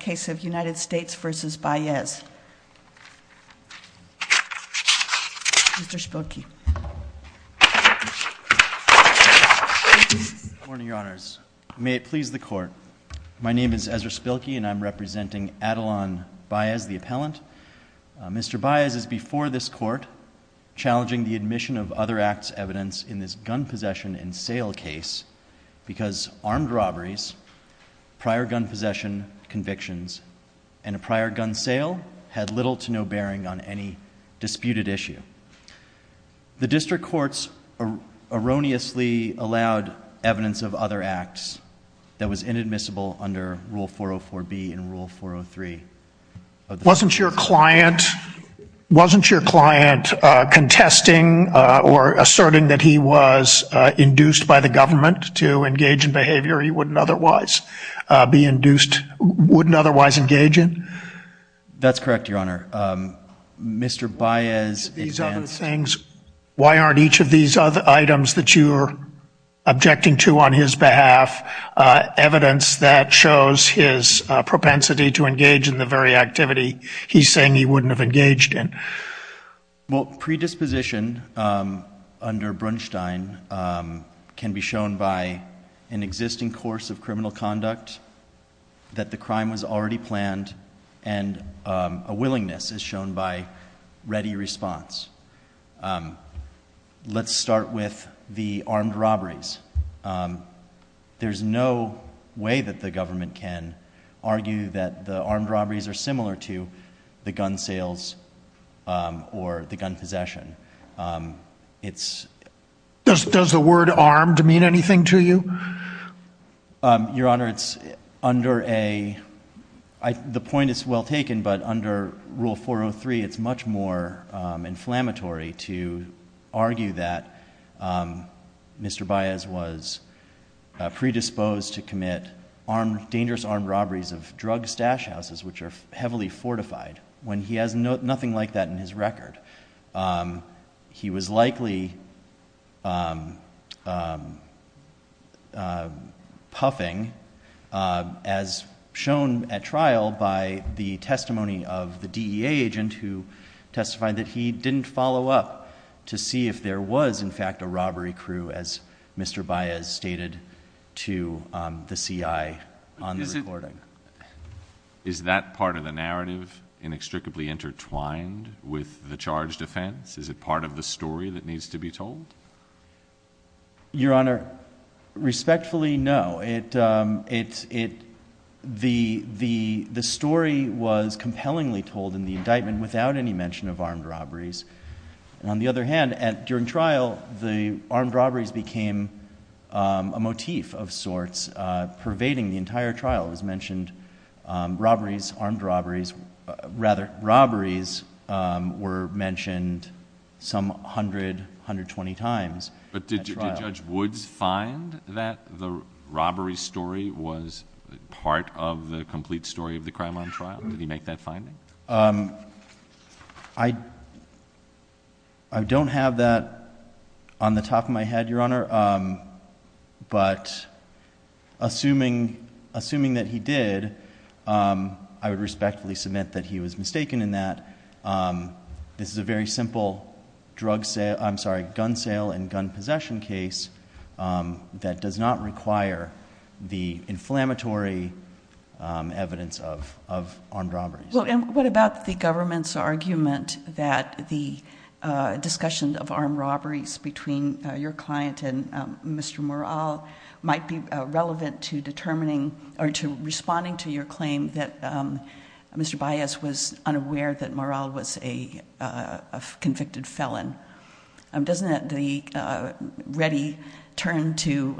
case of United States v. Baez, Mr. Spilkey. Good morning, your honors. May it please the court. My name is Ezra Spilkey and I'm representing Adlon Baez, the appellant. Mr. Baez is before this court challenging the admission of other acts evidence in this gun possession and sale case because armed robberies, prior gun possession, convictions, and a prior gun sale had little to no bearing on any disputed issue. The district courts erroneously allowed evidence of other acts that was inadmissible under Rule 404B and Rule 403. Wasn't your client, wasn't your client contesting or asserting that he was induced by the government to engage in behavior he wouldn't otherwise be induced, wouldn't otherwise engage in? That's correct, your honor. Mr. Baez. These other things, why aren't each of these other items that you're objecting to on his behalf evidence that shows his propensity to engage in the very activity he's saying he wouldn't have engaged in? Well, predisposition under Brunstein can be shown by an existing course of criminal conduct, that the crime was already planned, and a willingness is shown by ready response. Let's start with the armed robberies. There's no way that the government can argue that the gun possession, it's... Does the word armed mean anything to you? Your honor, it's under a, the point is well taken, but under Rule 403 it's much more inflammatory to argue that Mr. Baez was predisposed to commit dangerous armed robberies of drugs and stash houses, which are heavily fortified, when he has nothing like that in his record. He was likely puffing, as shown at trial by the testimony of the DEA agent who testified that he didn't follow up to see if there was in fact a robbery crew as Mr. Baez stated to the CI on the recording. Is that part of the narrative inextricably intertwined with the charged offense? Is it part of the story that needs to be told? Your honor, respectfully, no. The story was compellingly told in the indictment without any mention of armed robberies. On the other hand, during trial, the armed robberies became a motif of sorts, pervading the entire trial. It was mentioned robberies, armed robberies, rather robberies were mentioned some 100, 120 times at trial. But did Judge Woods find that the robbery story was part of the complete story of the crime on trial? Did he make that finding? I don't have that on the top of my head, your honor, but assuming that he did, I would respectfully submit that he was mistaken in that. This is a very simple gun sale and gun possession case that does not require the inflammatory evidence of armed robberies. What about the government's argument that the discussion of armed robberies between your client and Mr. Morales might be relevant to responding to your claim that Mr. Baez was unaware that Morales was a convicted felon? Doesn't the ready turn to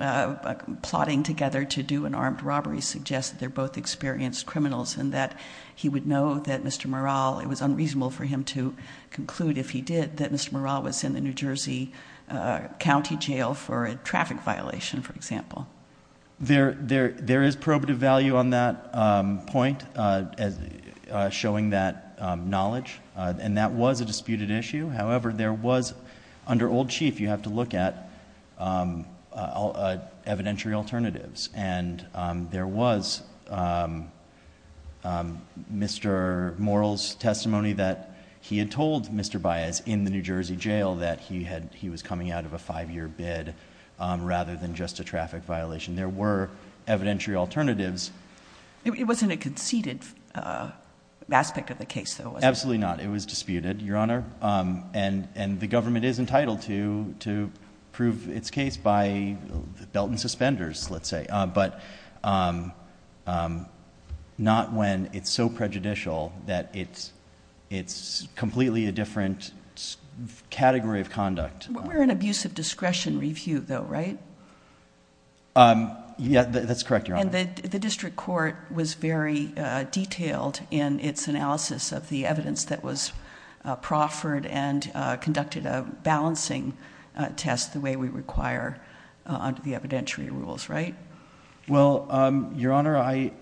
plotting together to do an armed robbery suggest that they're both experienced criminals and that he would know that Mr. Morales, it was unreasonable for him to conclude if he did, that Mr. Morales was in the New Jersey county jail for a traffic violation, for example. There is probative value on that point, showing that knowledge, and that was a disputed issue. However, there was, under old chief, you have to look at evidentiary alternatives, and there was Mr. Morales' testimony that he had told Mr. Baez in the New Jersey jail that he was coming out of a five-year bid rather than just a traffic violation. There were evidentiary alternatives. It wasn't a conceded aspect of the case, though, was it? Absolutely not. It was disputed, Your Honor, and the government is entitled to prove its case by belt and suspenders, let's say, but not when it's so prejudicial that it's completely a different category of conduct. We're in abuse of discretion review, though, right? Yeah, that's correct, Your Honor. The district court was very detailed in its analysis of the evidence that was proffered and conducted a balancing test the way we require under the evidentiary rules, right? Your Honor, I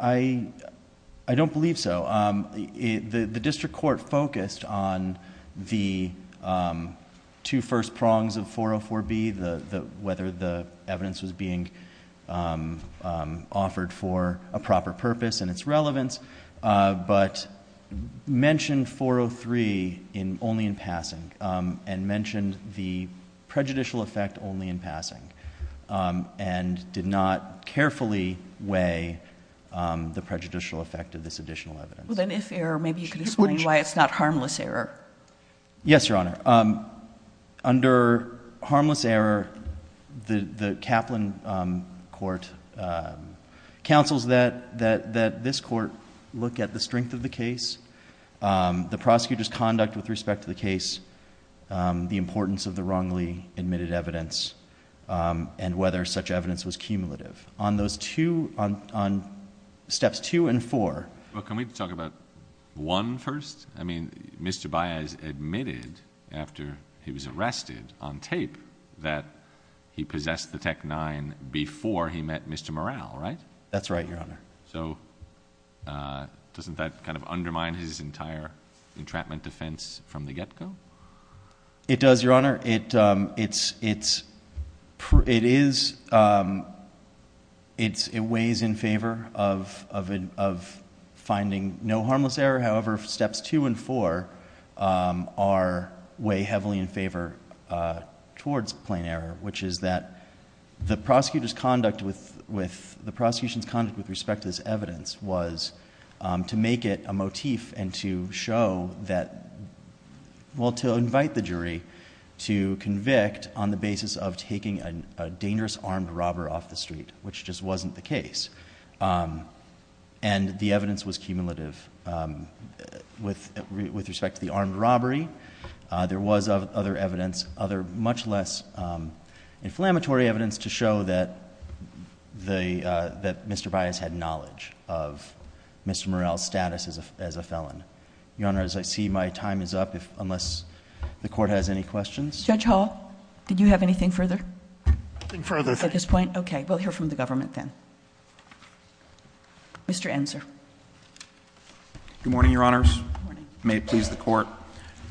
don't believe so. The district court focused on the two first prongs of 404B, whether the evidence was being offered for a proper purpose and its relevance, but mentioned 403 only in passing and mentioned the prejudicial effect only in passing and did not carefully weigh the prejudicial effect of this additional evidence. Well, then, if error, maybe you could explain why it's not harmless error. Yes, Your Honor. Under harmless error, the Kaplan court counsels that this court look at the strength of the case, the prosecutor's conduct with respect to the case, the importance of the wrongly admitted evidence, and whether such evidence was cumulative. On those two... on steps two and four... Can we talk about one first? I mean, Mr. Baez admitted after he was arrested on tape that he possessed the Tec-9 before he met Mr. Morrell, right? That's right, Your Honor. Doesn't that kind of undermine his entire entrapment defense from the get-go? It does, Your Honor. It is... it weighs in favor of false evidence. Finding no harmless error, however, steps two and four are way heavily in favor towards plain error, which is that the prosecutor's conduct with... the prosecution's conduct with respect to this evidence was to make it a motif and to show that... well, to invite the jury to convict on the basis of taking a dangerous armed robber off the street, which just wasn't the case. And the evidence was cumulative with respect to the armed robbery. There was other evidence, other much less inflammatory evidence, to show that Mr. Baez had knowledge of Mr. Morrell's status as a felon. Your Honor, as I see, my time is up, unless the Court has any questions? Judge Hall, did you have anything further at this point? No. Okay. We'll hear from the government then. Mr. Ensor. Good morning, Your Honors. May it please the Court.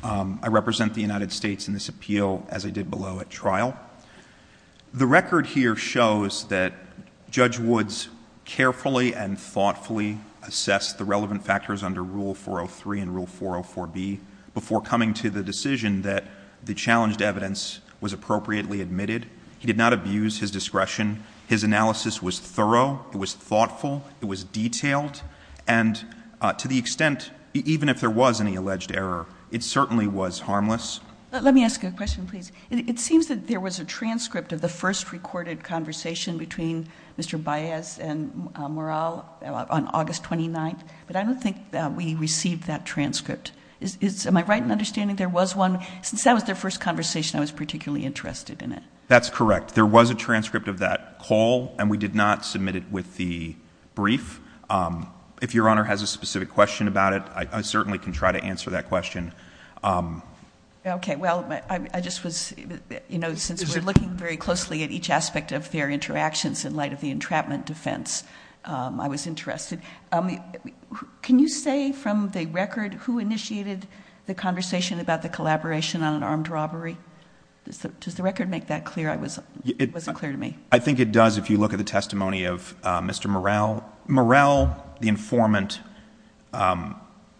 I represent the United States in this appeal as I did below at trial. The record here shows that Judge Woods carefully and thoughtfully assessed the relevant factors under Rule 403 and Rule 404B before coming to the decision that the challenged evidence was appropriately admitted. He did not abuse his discretion. His analysis was thorough. It was thoughtful. It was detailed. And to the extent, even if there was any alleged error, it certainly was harmless. Let me ask a question, please. It seems that there was a transcript of the first recorded conversation between Mr. Baez and Morrell on August 29th, but I don't think we received that transcript. Am I right in understanding there was one? Since that was their first conversation, I was particularly interested in it. That's correct. There was a transcript of that call, and we did not submit it with the brief. If Your Honor has a specific question about it, I certainly can try to answer that question. Okay. Well, I just was, you know, since we're looking very closely at each aspect of their interactions in light of the entrapment defense, I was interested. Can you say from the record who initiated the conversation about the collaboration on an armed robbery? Does the record make that clear? It wasn't clear to me. I think it does if you look at the testimony of Mr. Morrell. Morrell, the informant,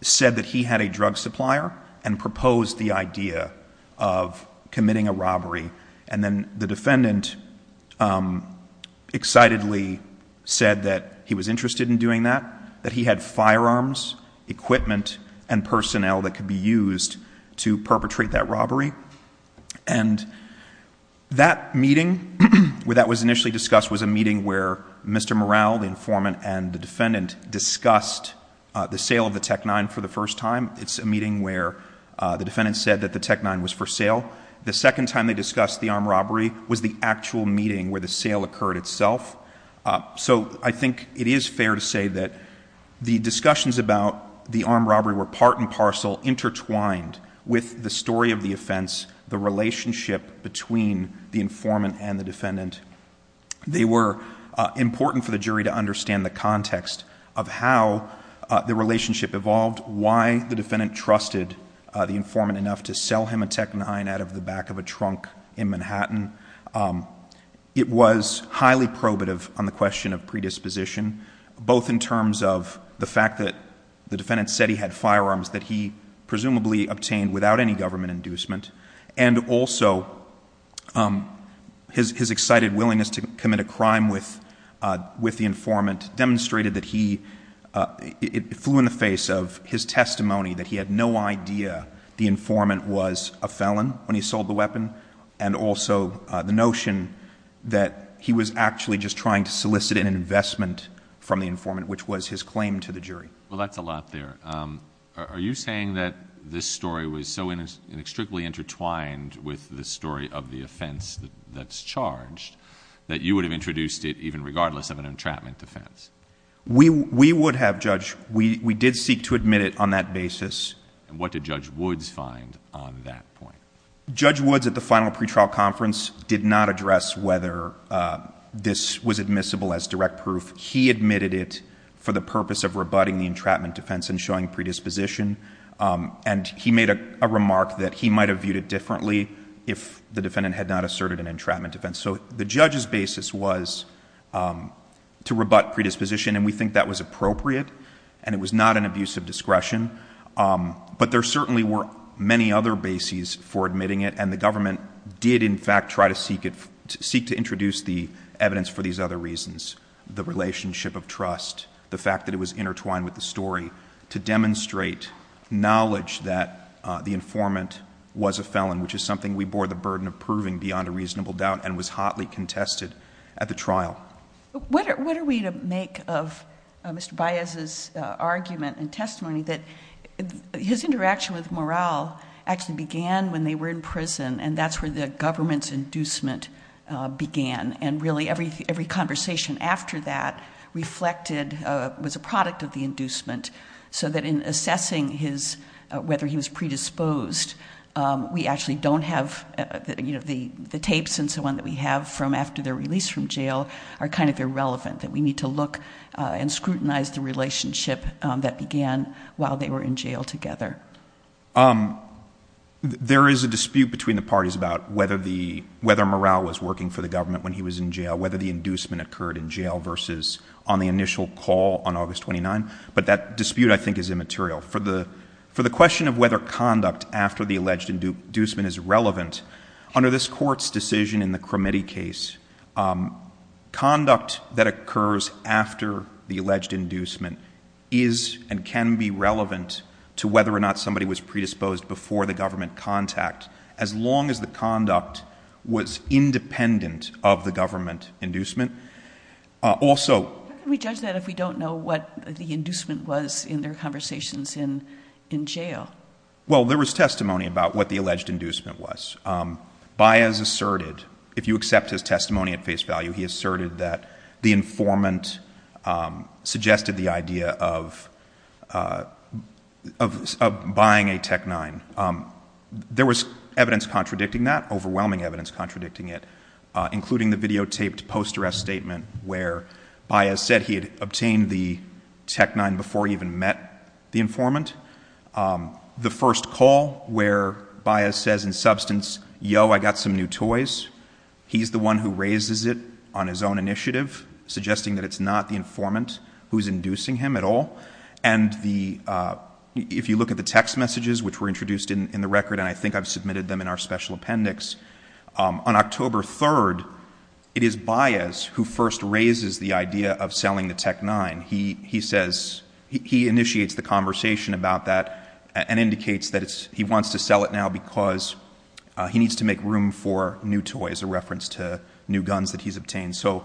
said that he had a drug supplier and proposed the idea of committing a robbery. And then the defendant excitedly said that he was interested in doing that, that he had firearms, equipment and personnel that could be used to perpetrate that robbery. And that meeting, where that was initially discussed, was a meeting where Mr. Morrell, the informant, and the defendant discussed the sale of the Tec-9 for the first time. It's a meeting where the defendant said that the Tec-9 was for sale. The second time they discussed the armed robbery was the actual meeting where the sale occurred itself. So I think it is fair to say that the discussions about the armed robbery were part and parcel intertwined with the story of the offense, the relationship between the informant and the defendant. They were important for the jury to understand the context of how the relationship evolved, why the defendant trusted the informant enough to sell him a Tec-9 out of the back of a trunk in Manhattan. It was highly probative on the question of predisposition, both in terms of the fact that the defendant said he had firearms that he presumably obtained without any government inducement, and also his excited willingness to commit a crime with the informant demonstrated that he, it flew in the face of his testimony that he had no idea the informant was a felon when he sold the weapon, and also the notion that he was actually just trying to solicit an investment from the informant, which was his claim to the jury. Well, that's a lot there. Are you saying that this story was so inextricably intertwined with the story of the offense that's charged that you would have introduced it even regardless of an entrapment defense? We would have, Judge. We did seek to admit it on that basis. What did Judge Woods find on that point? Judge Woods at the final pretrial conference did not address whether this was admissible as direct proof. He admitted it for the purpose of rebutting the entrapment defense and showing predisposition, and he made a remark that he might have viewed it differently if the defendant had not asserted an entrapment defense. So the judge's basis was to rebut predisposition, and we think that was appropriate, and it was not an abuse of discretion. But there certainly were many other bases for admitting it, and the government did, in fact, try to seek to introduce the evidence for these other reasons, the relationship of trust, the fact that it was intertwined with the story, to demonstrate knowledge that the informant was a felon, which is something we bore the burden of proving beyond a reasonable doubt and was hotly contested at the trial. What are we to make of Mr. Baez's argument and testimony that his interaction with Moral actually began when they were in prison, and that's where the government's inducement began, and really every conversation after that reflected, was a product of the inducement, so that in assessing whether he was predisposed, we actually don't have the tapes and so on that we have from after their release from jail are kind of irrelevant, that we need to look and scrutinize the relationship that began while they were in jail together. There is a dispute between the parties about whether Moral was working for the government when he was in jail, whether the inducement occurred in jail versus on the initial call on August 29, but that dispute, I think, is immaterial. For the question of whether conduct after the alleged inducement is relevant, under this Court's decision in the Cromitte case, conduct that occurs after the alleged inducement is and can be relevant to whether or not somebody was predisposed before the government contact, as long as the conduct was independent of the government inducement. Also — How can we judge that if we don't know what the inducement was in their conversations in jail? Well, there was testimony about what the alleged inducement was. Baez asserted, if you accept his testimony at face value, he asserted that the informant suggested the idea of buying a Tec-9. There was evidence contradicting that, overwhelming evidence contradicting it, including the videotaped post-arrest statement where Baez said he had the Tec-9 before he even met the informant. The first call where Baez says in substance, yo, I got some new toys, he's the one who raises it on his own initiative, suggesting that it's not the informant who's inducing him at all. And if you look at the text messages which were introduced in the record, and I think I've submitted them in our special appendix, on October 3rd, it is Baez who first raises the idea of selling the Tec-9. He says — he initiates the conversation about that and indicates that he wants to sell it now because he needs to make room for new toys, a reference to new guns that he's obtained. So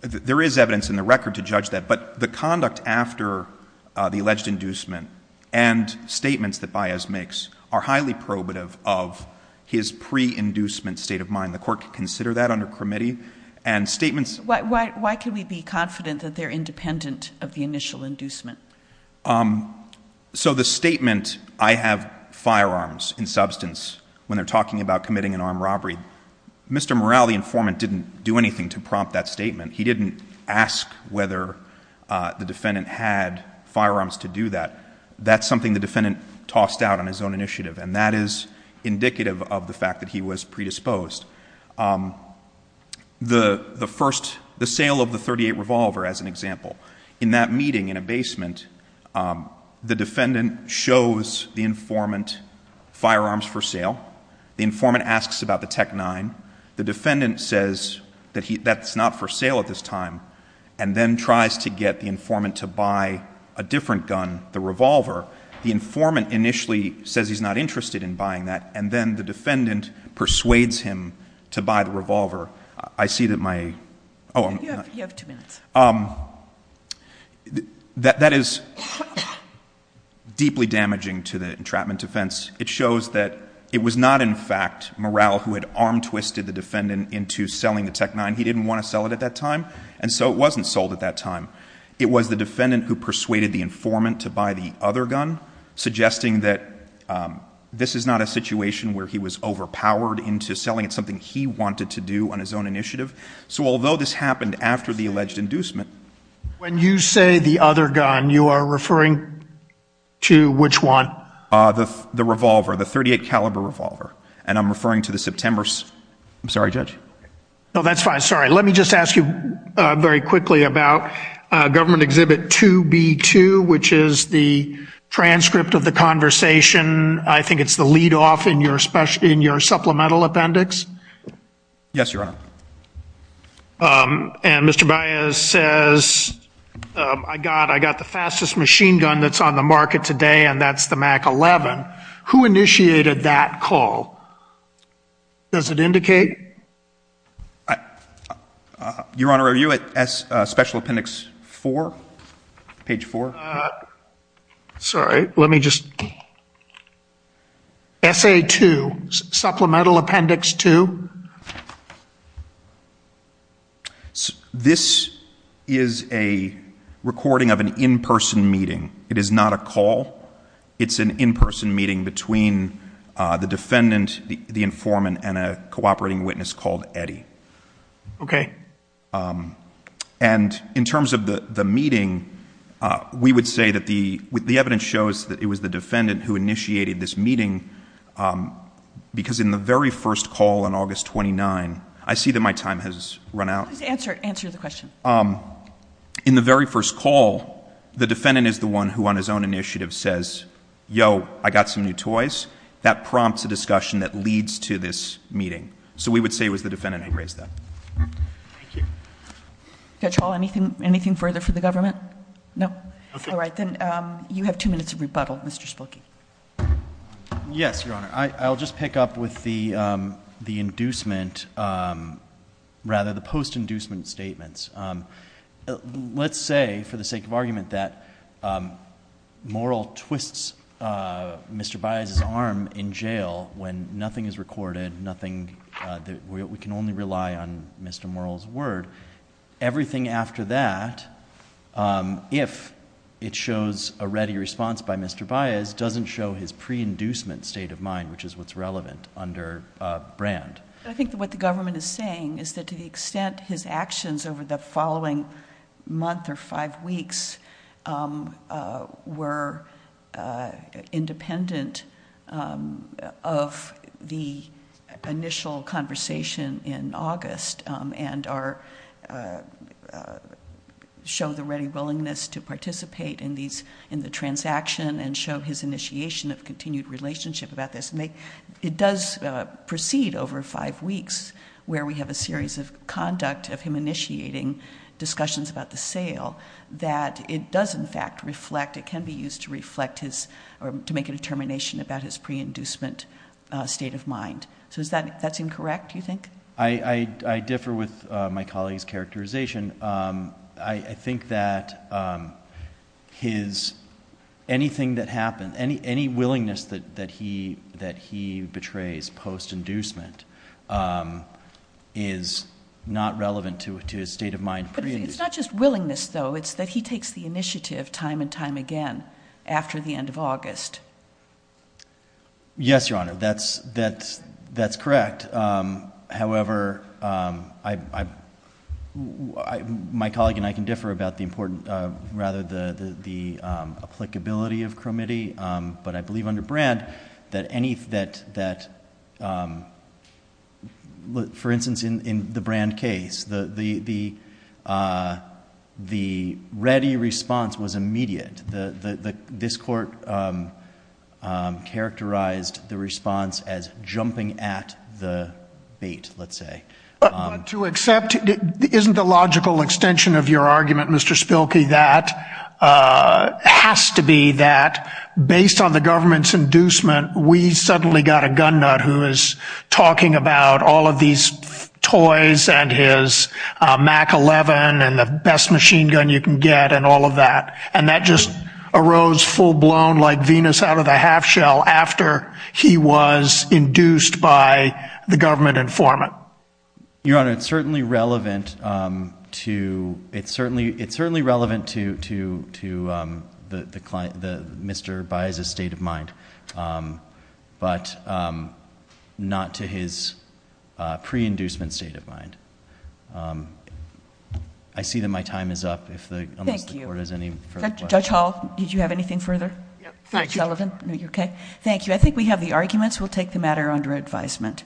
there is evidence in the record to judge that. But the conduct after the alleged inducement and statements that Baez makes are highly probative of his pre-inducement state of mind. The court can consider that under committee. And statements — Why can we be confident that they're independent of the initial inducement? So the statement, I have firearms in substance, when they're talking about committing an armed robbery, Mr. Morale, the informant, didn't do anything to prompt that statement. He didn't ask whether the defendant had firearms to do that. That's something the record is indicative of the fact that he was predisposed. The first — the sale of the .38 revolver, as an example. In that meeting in a basement, the defendant shows the informant firearms for sale. The informant asks about the Tec-9. The defendant says that he — that's not for sale at this time, and then tries to get the informant to buy a different gun, the revolver. The informant initially says he's not interested in buying that, and then the defendant persuades him to buy the revolver. I see that my — You have two minutes. That is deeply damaging to the entrapment defense. It shows that it was not in fact Morale who had arm-twisted the defendant into selling the Tec-9. He didn't want to sell it at that time, and so it wasn't sold at that time. It was the defendant who persuaded the informant to buy the other gun, suggesting that this is not a situation where he was overpowered into selling it, something he wanted to do on his own initiative. So although this happened after the alleged inducement — When you say the other gun, you are referring to which one? The revolver, the .38 caliber revolver. And I'm referring to the September — I'm sorry, Judge. No, that's fine. Sorry. Let me just ask you very quickly about Government Exhibit 2B2, which is the transcript of the conversation. I think it's the lead-off in your supplemental appendix. Yes, Your Honor. And Mr. Baez says, I got the fastest machine gun that's on the market today, and that's the MAC-11. Who initiated that call? Does it indicate? Your Honor, are you at Special Appendix 4, page 4? Sorry. Let me just — SA-2, Supplemental Appendix 2. This is a recording of an in-person meeting. It is not a call. It's an in-person meeting between the defendant, the informant, and a cooperating witness called Eddie. And in terms of the meeting, we would say that the evidence shows that it was the defendant who initiated this meeting, because in the very first call on August 29 — I see that my time has run out. Answer the question. In the very first call, the defendant is the one who, on his own initiative, says, yo, I got some new toys. That prompts a discussion that leads to this meeting. So we would say it was the defendant who raised that. Thank you. Judge Hall, anything further for the government? No? All right. Then you have two minutes of time. Yes, Your Honor. I'll just pick up with the inducement — rather, the post-inducement statements. Let's say, for the sake of argument, that Morrill twists Mr. Baez's arm in jail when nothing is recorded, nothing — we can only rely on Mr. Morrill's word. Everything after that, if it shows a ready response by Mr. Baez, doesn't show his pre-inducement state of mind, which is what's relevant under Brand. I think what the government is saying is that to the extent his actions over the following month or five weeks were independent of the initial conversation in August and show the ready willingness to participate in the transaction and show his initiation of continued relationship about this — it does proceed over five weeks where we have a series of conduct of him initiating discussions about the sale — that it does, in fact, reflect — it can be used to reflect his — or to make a determination about his pre-inducement state of mind. So is that — that's incorrect, you think? I differ with my colleague's characterization. I think that his — anything that happened, any willingness that he betrays post-inducement is not relevant to his state of mind. But it's not just willingness, though. It's that he takes the initiative time and time again after the end of August. Yes, Your Honor, that's correct. However, I — my colleague and I can differ about the applicability of Cromitty. But I believe under Brand that any — that — for instance, in the Brand case, the ready response was immediate. This Court characterized the response as jumping at the bait, let's say. To accept — isn't the logical extension of your argument, Mr. Spilkey, that has to be that based on the government's inducement, we suddenly got a gun nut who is talking about all of these toys and his MAC-11 and the best machine gun you can get and all of that. And that just arose full-blown like Venus out of the half-shell after he was induced by the government informant. Your Honor, it's certainly relevant to — it's certainly relevant to the client, the — Mr. Baez's state of mind, but not to his pre-inducement state of mind. I see that my time is up if the — unless the Court has any further questions. Judge Hall, did you have anything further? Yeah, thank you. Mr. Sullivan, are you okay? Thank you. I think we have the arguments. We'll take the matter under advisement.